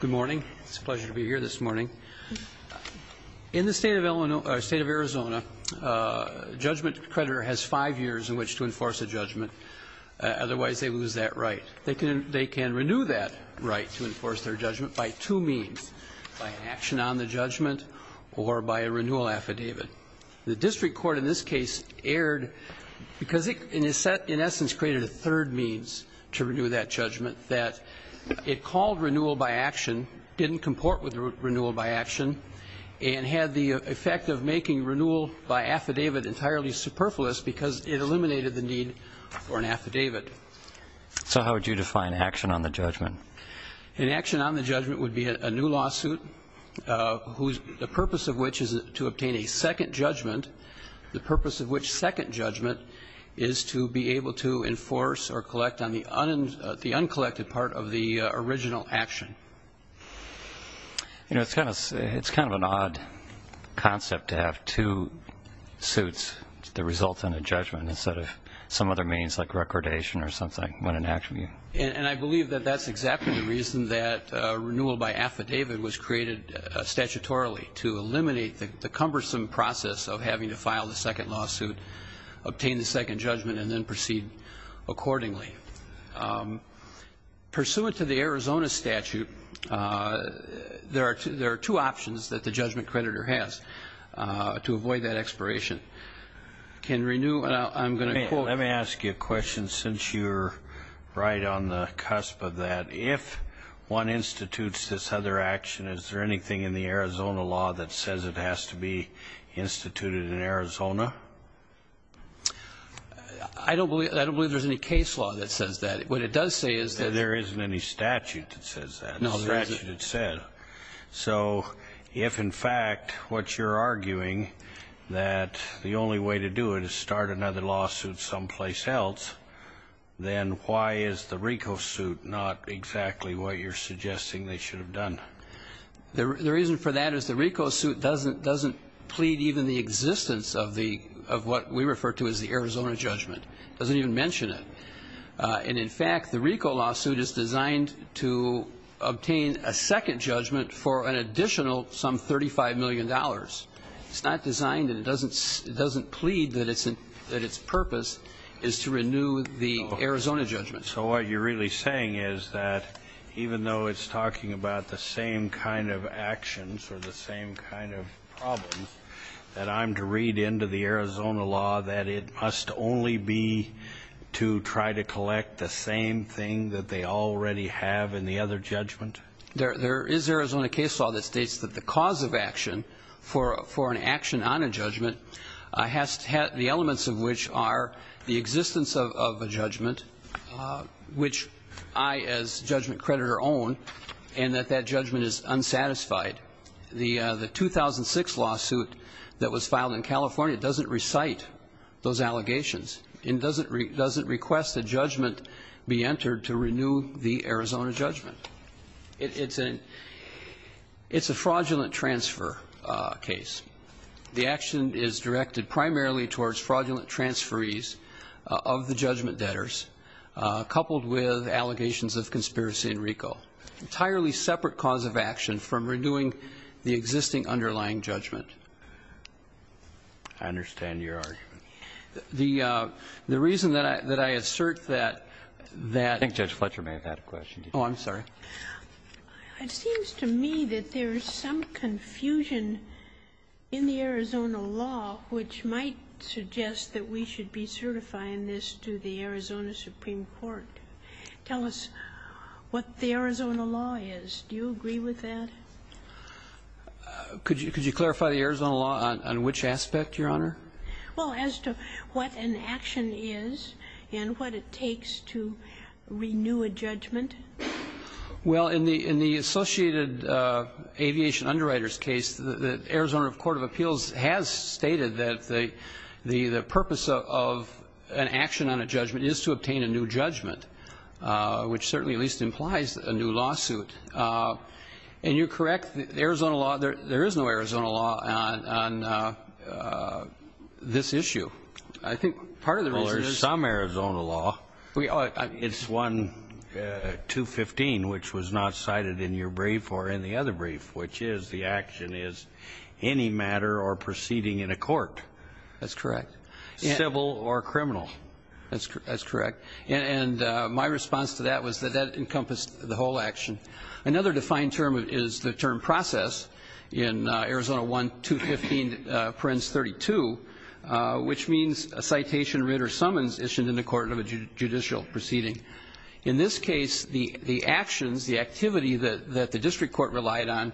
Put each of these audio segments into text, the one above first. Good morning. It's a pleasure to be here this morning. In the state of Arizona, a judgment creditor has five years in which to enforce a judgment. Otherwise, they lose that right. They can renew that right to enforce their judgment by two means, by an action on the judgment or by a renewal affidavit. The district court in this case erred because it, in essence, created a third means to renew that judgment that it called renewal by action. It didn't comport with renewal by action and had the effect of making renewal by affidavit entirely superfluous because it eliminated the need for an affidavit. So how would you define action on the judgment? An action on the judgment would be a new lawsuit whose purpose of which is to obtain a second judgment, the purpose of which second judgment is to be able to enforce or collect on the uncollected part of the original action. You know, it's kind of an odd concept to have two suits that result in a judgment instead of some other means like recordation or something. And I believe that that's exactly the reason that renewal by affidavit was created statutorily, to eliminate the cumbersome process of having to file the second lawsuit, obtain the second judgment, and then proceed accordingly. Pursuant to the Arizona statute, there are two options that the judgment creditor has to avoid that expiration. Let me ask you a question since you're right on the cusp of that. If one institutes this other action, is there anything in the Arizona law that says it has to be instituted in Arizona? I don't believe there's any case law that says that. What it does say is that there isn't any statute that says that. No, there isn't. So if, in fact, what you're arguing that the only way to do it is start another lawsuit someplace else, then why is the RICO suit not exactly what you're suggesting they should have done? The reason for that is the RICO suit doesn't plead even the existence of what we refer to as the Arizona judgment. It doesn't even mention it. And, in fact, the RICO lawsuit is designed to obtain a second judgment for an additional some $35 million. It's not designed and it doesn't plead that its purpose is to renew the Arizona judgment. So what you're really saying is that even though it's talking about the same kind of actions or the same kind of problems, that I'm to read into the Arizona law that it must only be to try to collect the same thing that they already have in the other judgment? There is Arizona case law that states that the cause of action for an action on a judgment has to have the elements of which are the existence of a judgment, which I, as judgment creditor, own, and that that judgment is unsatisfied. The 2006 lawsuit that was filed in California doesn't recite those allegations and doesn't request a judgment be entered to renew the Arizona judgment. It's a fraudulent transfer case. The action is directed primarily towards fraudulent transferees of the judgment debtors, coupled with allegations of conspiracy in RICO. Entirely separate cause of action from renewing the existing underlying judgment. I understand your argument. The reason that I assert that that ---- I think Judge Fletcher may have had a question. Oh, I'm sorry. It seems to me that there is some confusion in the Arizona law which might suggest that we should be certifying this to the Arizona Supreme Court. Tell us what the Arizona law is. Do you agree with that? Could you clarify the Arizona law on which aspect, Your Honor? Well, as to what an action is and what it takes to renew a judgment. Well, in the associated aviation underwriters case, the Arizona Court of Appeals has stated that the purpose of an action on a judgment is to obtain a new judgment, which certainly at least implies a new lawsuit. And you're correct. The Arizona law, there is no Arizona law on this issue. I think part of the reason is ---- Well, there's some Arizona law. It's 1215, which was not cited in your brief or in the other brief, which is the action is any matter or proceeding in a court. That's correct. Civil or criminal. That's correct. And my response to that was that that encompassed the whole action. Another defined term is the term process in Arizona 1215, parens 32, which means a citation, writ or summons issued in the court of a judicial proceeding. In this case, the actions, the activity that the district court relied on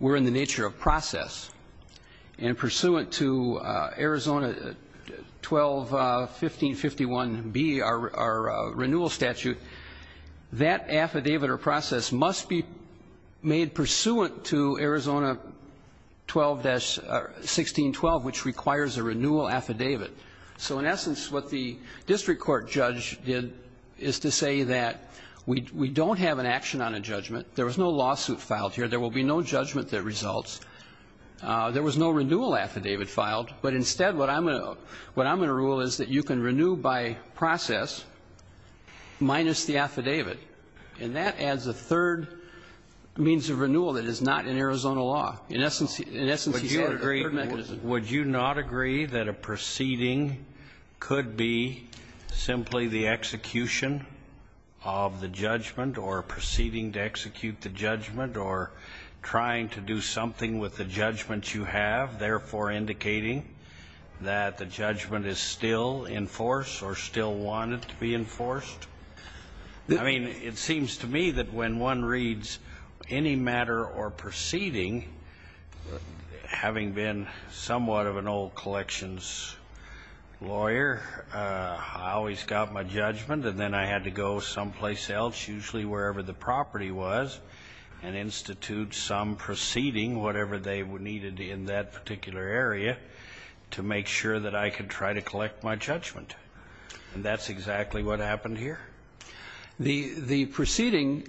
were in the nature of process. And pursuant to Arizona 121551B, our renewal statute, that affidavit or process must be made pursuant to Arizona 121612, which requires a renewal affidavit. So in essence, what the district court judge did is to say that we don't have an action on a judgment. There was no lawsuit filed here. There will be no judgment that results. There was no renewal affidavit filed. But instead, what I'm going to rule is that you can renew by process minus the affidavit. And that adds a third means of renewal that is not in Arizona law. In essence, you have a third mechanism. Would you not agree that a proceeding could be simply the execution of the judgment or proceeding to execute the judgment or trying to do something with the judgments that you have, therefore indicating that the judgment is still in force or still wanted to be enforced? I mean, it seems to me that when one reads any matter or proceeding, having been somewhat of an old collections lawyer, I always got my judgment, and then I had to go someplace else, usually wherever the property was, and institute some proceeding, whatever they needed in that particular area, to make sure that I could try to collect my judgment. And that's exactly what happened here. The proceeding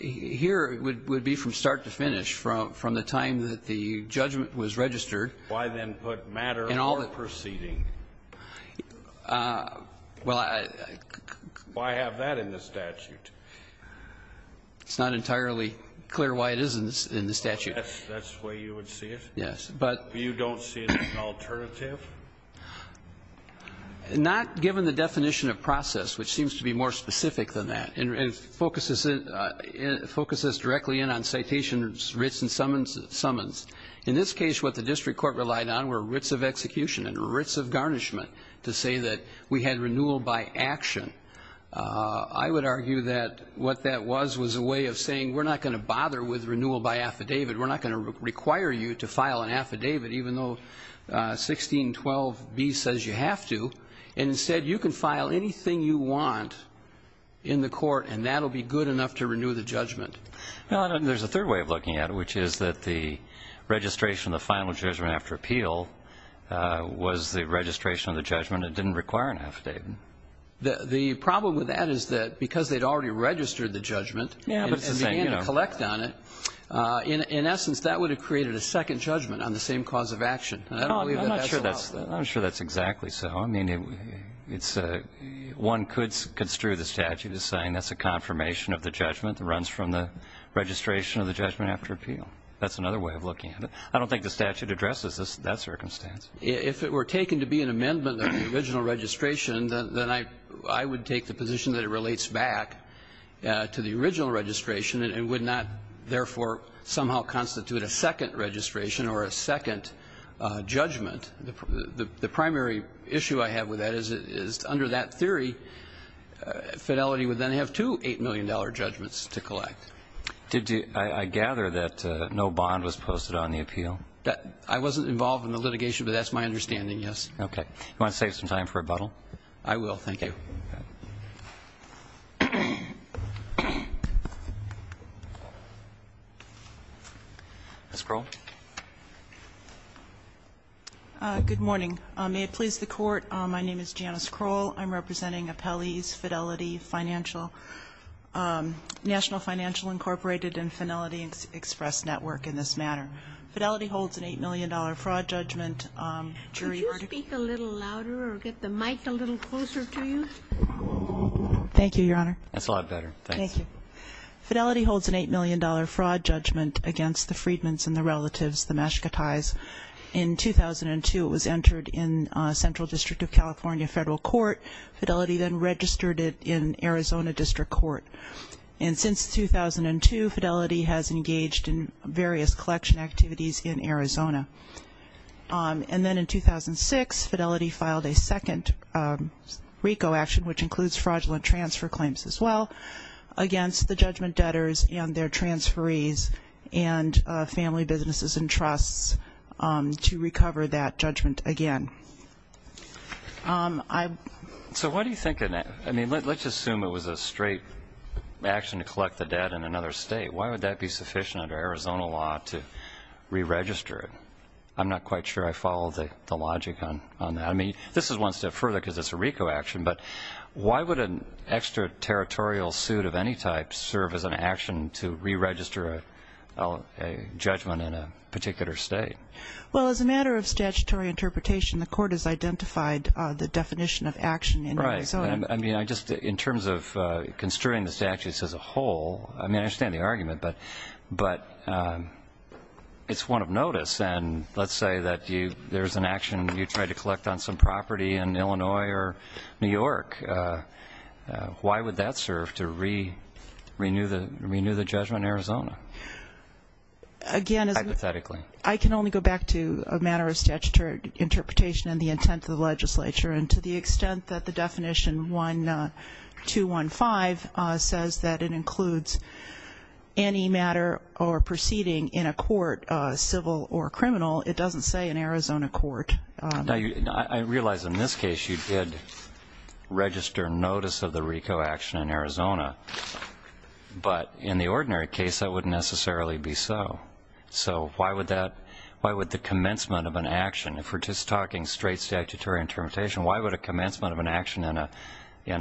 here would be from start to finish, from the time that the judgment was registered. Why then put matter or proceeding? Well, I — Why have that in the statute? It's not entirely clear why it is in the statute. That's the way you would see it? Yes. But you don't see it as an alternative? Not given the definition of process, which seems to be more specific than that, and focuses directly in on citations, writs, and summons. In this case, what the district court relied on were writs of execution and writs of garnishment to say that we had renewal by action. I would argue that what that was was a way of saying, we're not going to bother with renewal by affidavit. We're not going to require you to file an affidavit, even though 1612B says you have to. Instead, you can file anything you want in the court, and that will be good enough to renew the judgment. There's a third way of looking at it, which is that the registration of the final judgment after appeal was the registration of the judgment. It didn't require an affidavit. The problem with that is that because they'd already registered the judgment and began to collect on it, in essence, that would have created a second judgment on the same cause of action. And I don't believe that that's the law. I'm not sure that's exactly so. I mean, one could construe the statute as saying that's a confirmation of the judgment that runs from the registration of the judgment after appeal. That's another way of looking at it. I don't think the statute addresses that circumstance. If it were taken to be an amendment of the original registration, then I would take the position that it relates back to the original registration and would not, therefore, somehow constitute a second registration or a second judgment. The primary issue I have with that is under that theory, Fidelity would then have two $8 million judgments to collect. I gather that no bond was posted on the appeal. I wasn't involved in the litigation, but that's my understanding, yes. Okay. You want to save some time for rebuttal? I will. Thank you. Ms. Kroll? Good morning. May it please the Court, my name is Janice Kroll. I'm representing Appellees Fidelity Financial, National Financial Incorporated and Fidelity Express Network in this matter. Fidelity holds an $8 million fraud judgment. Could you speak a little louder or get the mic a little closer to you? Thank you, Your Honor. That's a lot better. Thank you. Fidelity holds an $8 million fraud judgment against the Freedmans and the relatives, the Mashkatais. In 2002, it was entered in Central District of California Federal Court. Fidelity then registered it in Arizona District Court. And since 2002, Fidelity has engaged in various collection activities in Arizona. And then in 2006, Fidelity filed a second RICO action, which includes fraudulent transfer claims as well, against the judgment debtors and their transferees and family businesses and trusts to recover that judgment again. So what do you think of that? I mean, let's assume it was a straight action to collect the debt in another state. Why would that be sufficient under Arizona law to re-register it? I'm not quite sure I follow the logic on that. I mean, this is one step further because it's a RICO action, but why would an extraterritorial suit of any type serve as an action to re-register a judgment in a particular state? Well, as a matter of statutory interpretation, the Court has identified the definition of action in Arizona. I mean, just in terms of construing the statutes as a whole, I mean, I understand the argument, but it's one of notice. And let's say that there's an action you tried to collect on some property in Illinois or New York. Why would that serve to renew the judgment in Arizona? Again, I can only go back to a matter of statutory interpretation and the intent of the legislature. And to the extent that the definition, 1215, says that it includes any matter or proceeding in a court, civil or criminal, it doesn't say in Arizona court. Now, I realize in this case you did register notice of the RICO action in Arizona, but in the ordinary case that wouldn't necessarily be so. So why would the commencement of an action, if we're just talking straight statutory interpretation, why would a commencement of an action in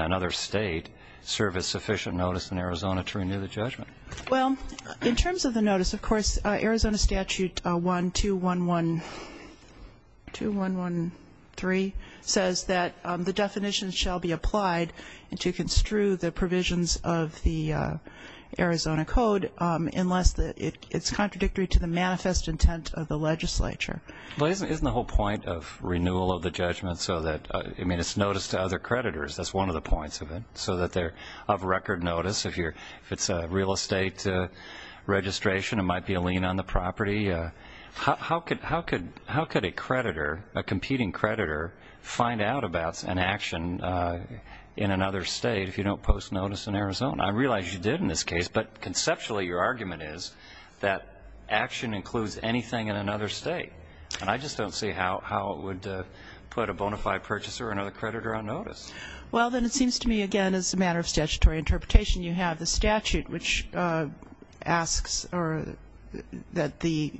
another state serve as sufficient notice in Arizona to renew the judgment? Well, in terms of the notice, of course, Arizona Statute 12113 says that the definition shall be applied to construe the provisions of the Arizona Code unless it's contradictory to the manifest intent of the legislature. Well, isn't the whole point of renewal of the judgment so that, I mean, it's notice to other creditors. That's one of the points of it, so that they're of record notice. If it's a real estate registration, it might be a lien on the property. How could a creditor, a competing creditor, find out about an action in another state if you don't post notice in Arizona? I realize you did in this case, but conceptually your argument is that action includes anything in another state, and I just don't see how it would put a bona fide purchaser or another creditor on notice. Well, then it seems to me, again, as a matter of statutory interpretation, you have the statute which asks that the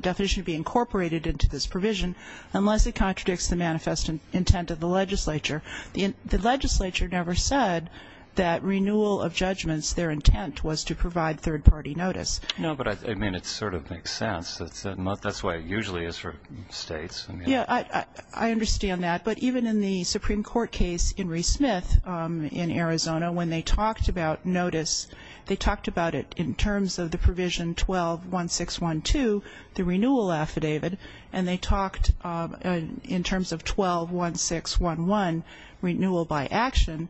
definition be incorporated into this provision unless it contradicts the manifest intent of the legislature. The legislature never said that renewal of judgments, their intent was to provide third-party notice. No, but, I mean, it sort of makes sense. That's why it usually is for states. Yeah, I understand that. But even in the Supreme Court case in Reece Smith in Arizona, when they talked about notice, they talked about it in terms of the provision 12-1612, the renewal affidavit, and they talked in terms of 12-1611, renewal by action,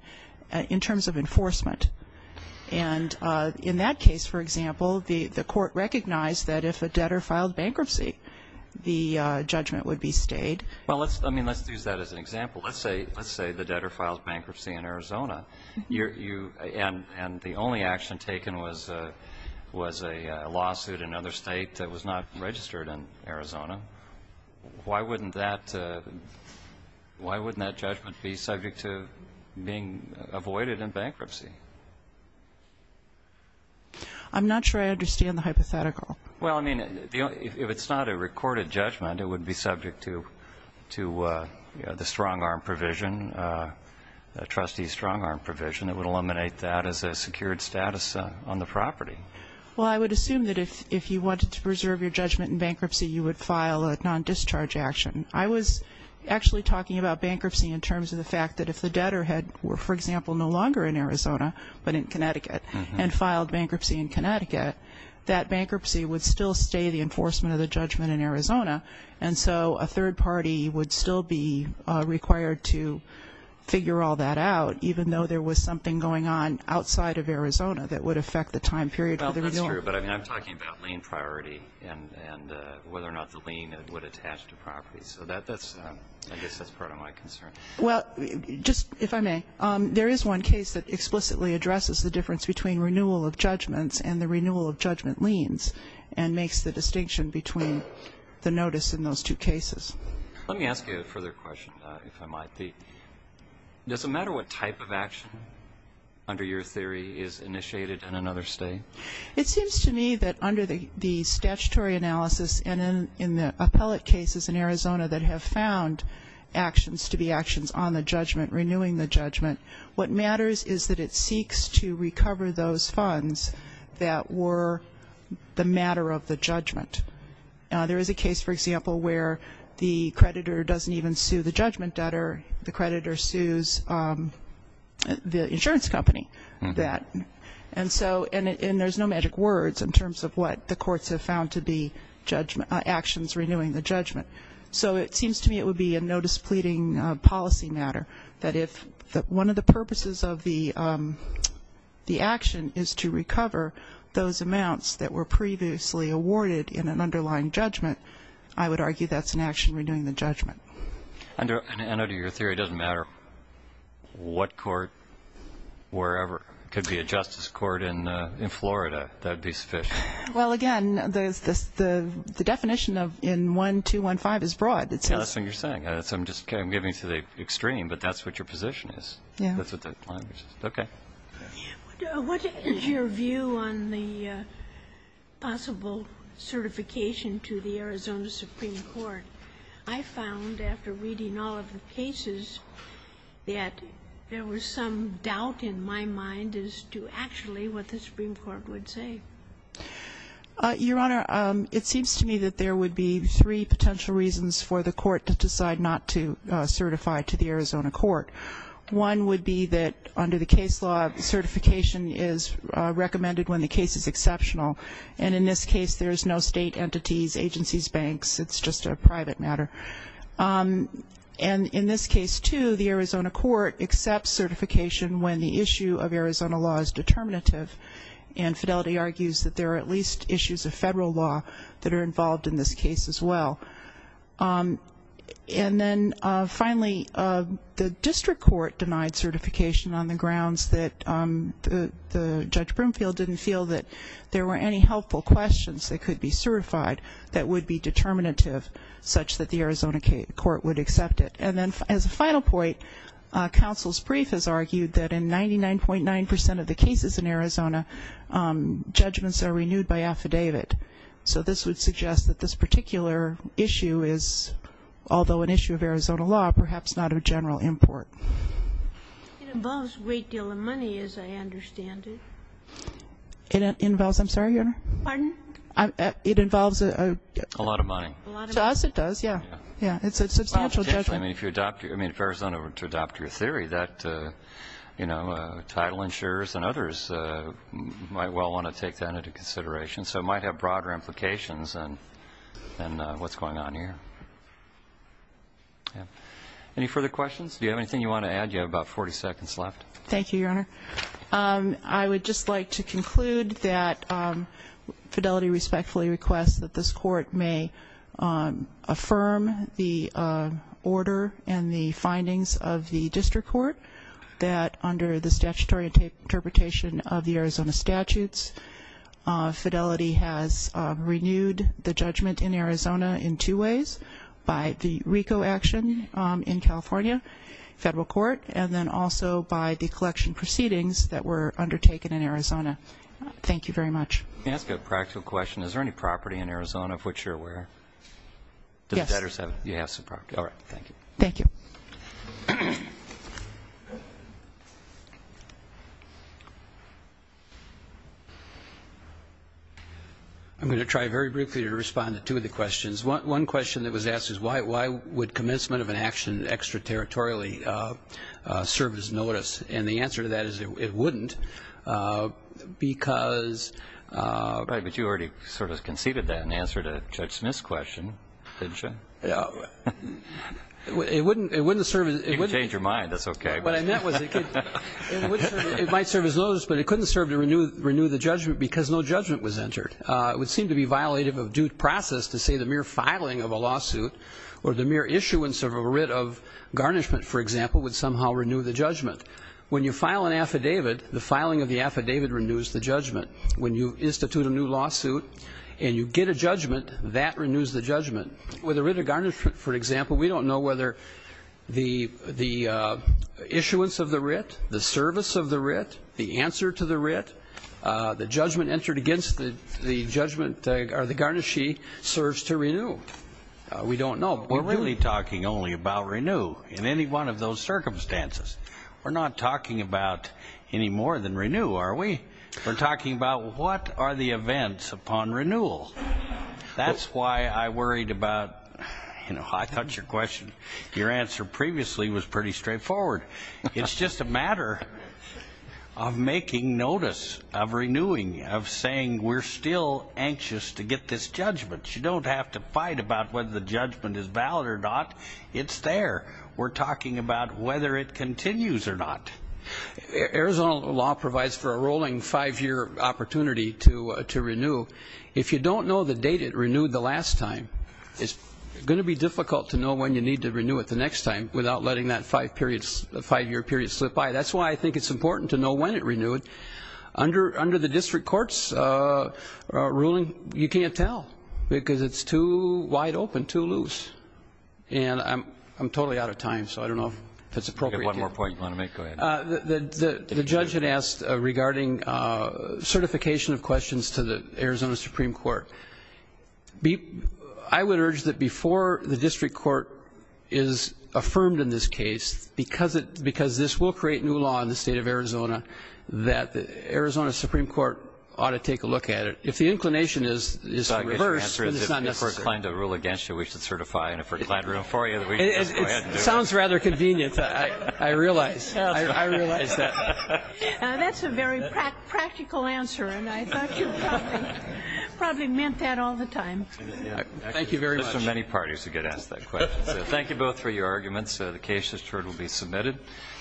in terms of enforcement. And in that case, for example, the court recognized that if a debtor filed bankruptcy, the judgment would be stayed. Well, I mean, let's use that as an example. Let's say the debtor filed bankruptcy in Arizona, and the only action taken was a lawsuit in another state that was not registered in Arizona. Why wouldn't that judgment be subject to being avoided in bankruptcy? I'm not sure I understand the hypothetical. Well, I mean, if it's not a recorded judgment, it would be subject to the strong-arm provision, the trustee strong-arm provision. It would eliminate that as a secured status on the property. Well, I would assume that if you wanted to preserve your judgment in bankruptcy, you would file a non-discharge action. I was actually talking about bankruptcy in terms of the fact that if the debtor had, for example, no longer in Arizona but in Connecticut and filed bankruptcy in Connecticut, that bankruptcy would still stay the enforcement of the judgment in Arizona. And so a third party would still be required to figure all that out, even though there was something going on outside of Arizona that would affect the time period for the renewal. Well, that's true, but I'm talking about lien priority and whether or not the lien would attach to properties. So I guess that's part of my concern. Well, just if I may, there is one case that explicitly addresses the difference between renewal of judgments and the renewal of judgment liens and makes the distinction between the notice in those two cases. Let me ask you a further question, if I might. Does it matter what type of action, under your theory, is initiated in another state? It seems to me that under the statutory analysis and in the appellate cases in Arizona that have found actions to be actions on the judgment, renewing the judgment, what matters is that it seeks to recover those funds that were the matter of the judgment. There is a case, for example, where the creditor doesn't even sue the judgment debtor. The creditor sues the insurance company for that. And there's no magic words in terms of what the courts have found to be actions renewing the judgment. So it seems to me it would be a no-displeading policy matter that if one of the purposes of the action is to recover those amounts that were previously awarded in an underlying judgment, I would argue that's an action renewing the judgment. And under your theory, it doesn't matter what court, wherever. It could be a justice court in Florida. That would be sufficient. Well, again, the definition in 1215 is broad. That's what you're saying. I'm getting to the extreme, but that's what your position is. Yeah. That's what the language is. Okay. What is your view on the possible certification to the Arizona Supreme Court? I found after reading all of the cases that there was some doubt in my mind as to actually what the Supreme Court would say. Your Honor, it seems to me that there would be three potential reasons for the court to decide not to certify to the Arizona court. One would be that under the case law, certification is recommended when the case is exceptional. And in this case, there's no state entities, agencies, banks. It's just a private matter. And in this case, too, the Arizona court accepts certification when the issue of Arizona law is determinative. And Fidelity argues that there are at least issues of federal law that are involved in this case as well. And then, finally, the district court denied certification on the grounds that the Judge Broomfield didn't feel that there were any helpful questions that could be certified that would be determinative, such that the Arizona court would accept it. And then as a final point, counsel's brief has argued that in 99.9% of the cases in Arizona, judgments are renewed by affidavit. So this would suggest that this particular issue is, although an issue of Arizona law, perhaps not of general import. It involves a great deal of money, as I understand it. It involves, I'm sorry, Your Honor? Pardon? It involves a... A lot of money. To us, it does, yeah. Yeah. It's a substantial judgment. I mean, if you adopt, I mean, if Arizona were to adopt your theory, that, you know, title insurers and others might well want to take that into consideration. So it might have broader implications than what's going on here. Yeah. Any further questions? Do you have anything you want to add? You have about 40 seconds left. Thank you, Your Honor. I would just like to conclude that Fidelity respectfully requests that this court may affirm the order and the findings of the district court that under the statutory interpretation of the Arizona statutes, Fidelity has renewed the judgment in Arizona in two ways, by the RICO action in California, federal court, and then also by the collection proceedings that were undertaken in Arizona. Thank you very much. May I ask a practical question? Is there any property in Arizona of which you're aware? Yes. All right. Thank you. Thank you. I'm going to try very briefly to respond to two of the questions. One question that was asked is, why would commencement of an action extraterritorially serve as notice? And the answer to that is it wouldn't because – Right, but you already sort of conceded that in answer to Judge Smith's question, didn't you? It wouldn't serve as – You can change your mind. That's okay. What I meant was it might serve as notice, but it couldn't serve to renew the judgment because no judgment was entered. It would seem to be violative of due process to say the mere filing of a lawsuit or the mere issuance of a writ of garnishment, for example, would somehow renew the judgment. When you file an affidavit, the filing of the affidavit renews the judgment. When you institute a new lawsuit and you get a judgment, that renews the judgment. With a writ of garnishment, for example, we don't know whether the issuance of the writ, the service of the writ, the answer to the writ, the judgment entered against the judgment or the garnishee serves to renew. We don't know. We're really talking only about renew in any one of those circumstances. We're not talking about any more than renew, are we? We're talking about what are the events upon renewal. That's why I worried about, you know, I thought your question, your answer previously was pretty straightforward. It's just a matter of making notice of renewing, of saying we're still anxious to get this judgment. You don't have to fight about whether the judgment is valid or not. It's there. We're talking about whether it continues or not. Arizona law provides for a rolling five-year opportunity to renew. If you don't know the date it renewed the last time, it's going to be difficult to know when you need to renew it the next time without letting that five-year period slip by. That's why I think it's important to know when it renewed. Under the district court's ruling, you can't tell because it's too wide open, too loose. And I'm totally out of time, so I don't know if that's appropriate. We have one more point you want to make. Go ahead. The judge had asked regarding certification of questions to the Arizona Supreme Court. I would urge that before the district court is affirmed in this case, because this will create new law in the State of Arizona, that the Arizona Supreme Court ought to take a look at it. If the inclination is the reverse, then it's not necessary. If we're inclined to rule against you, we should certify, and if we're inclined to rule for you, we should just go ahead and do it. It sounds rather convenient, I realize. I realize that. That's a very practical answer, and I thought you probably meant that all the time. Thank you very much. That's for many parties who get asked that question. So thank you both for your arguments. The case is sure to be submitted.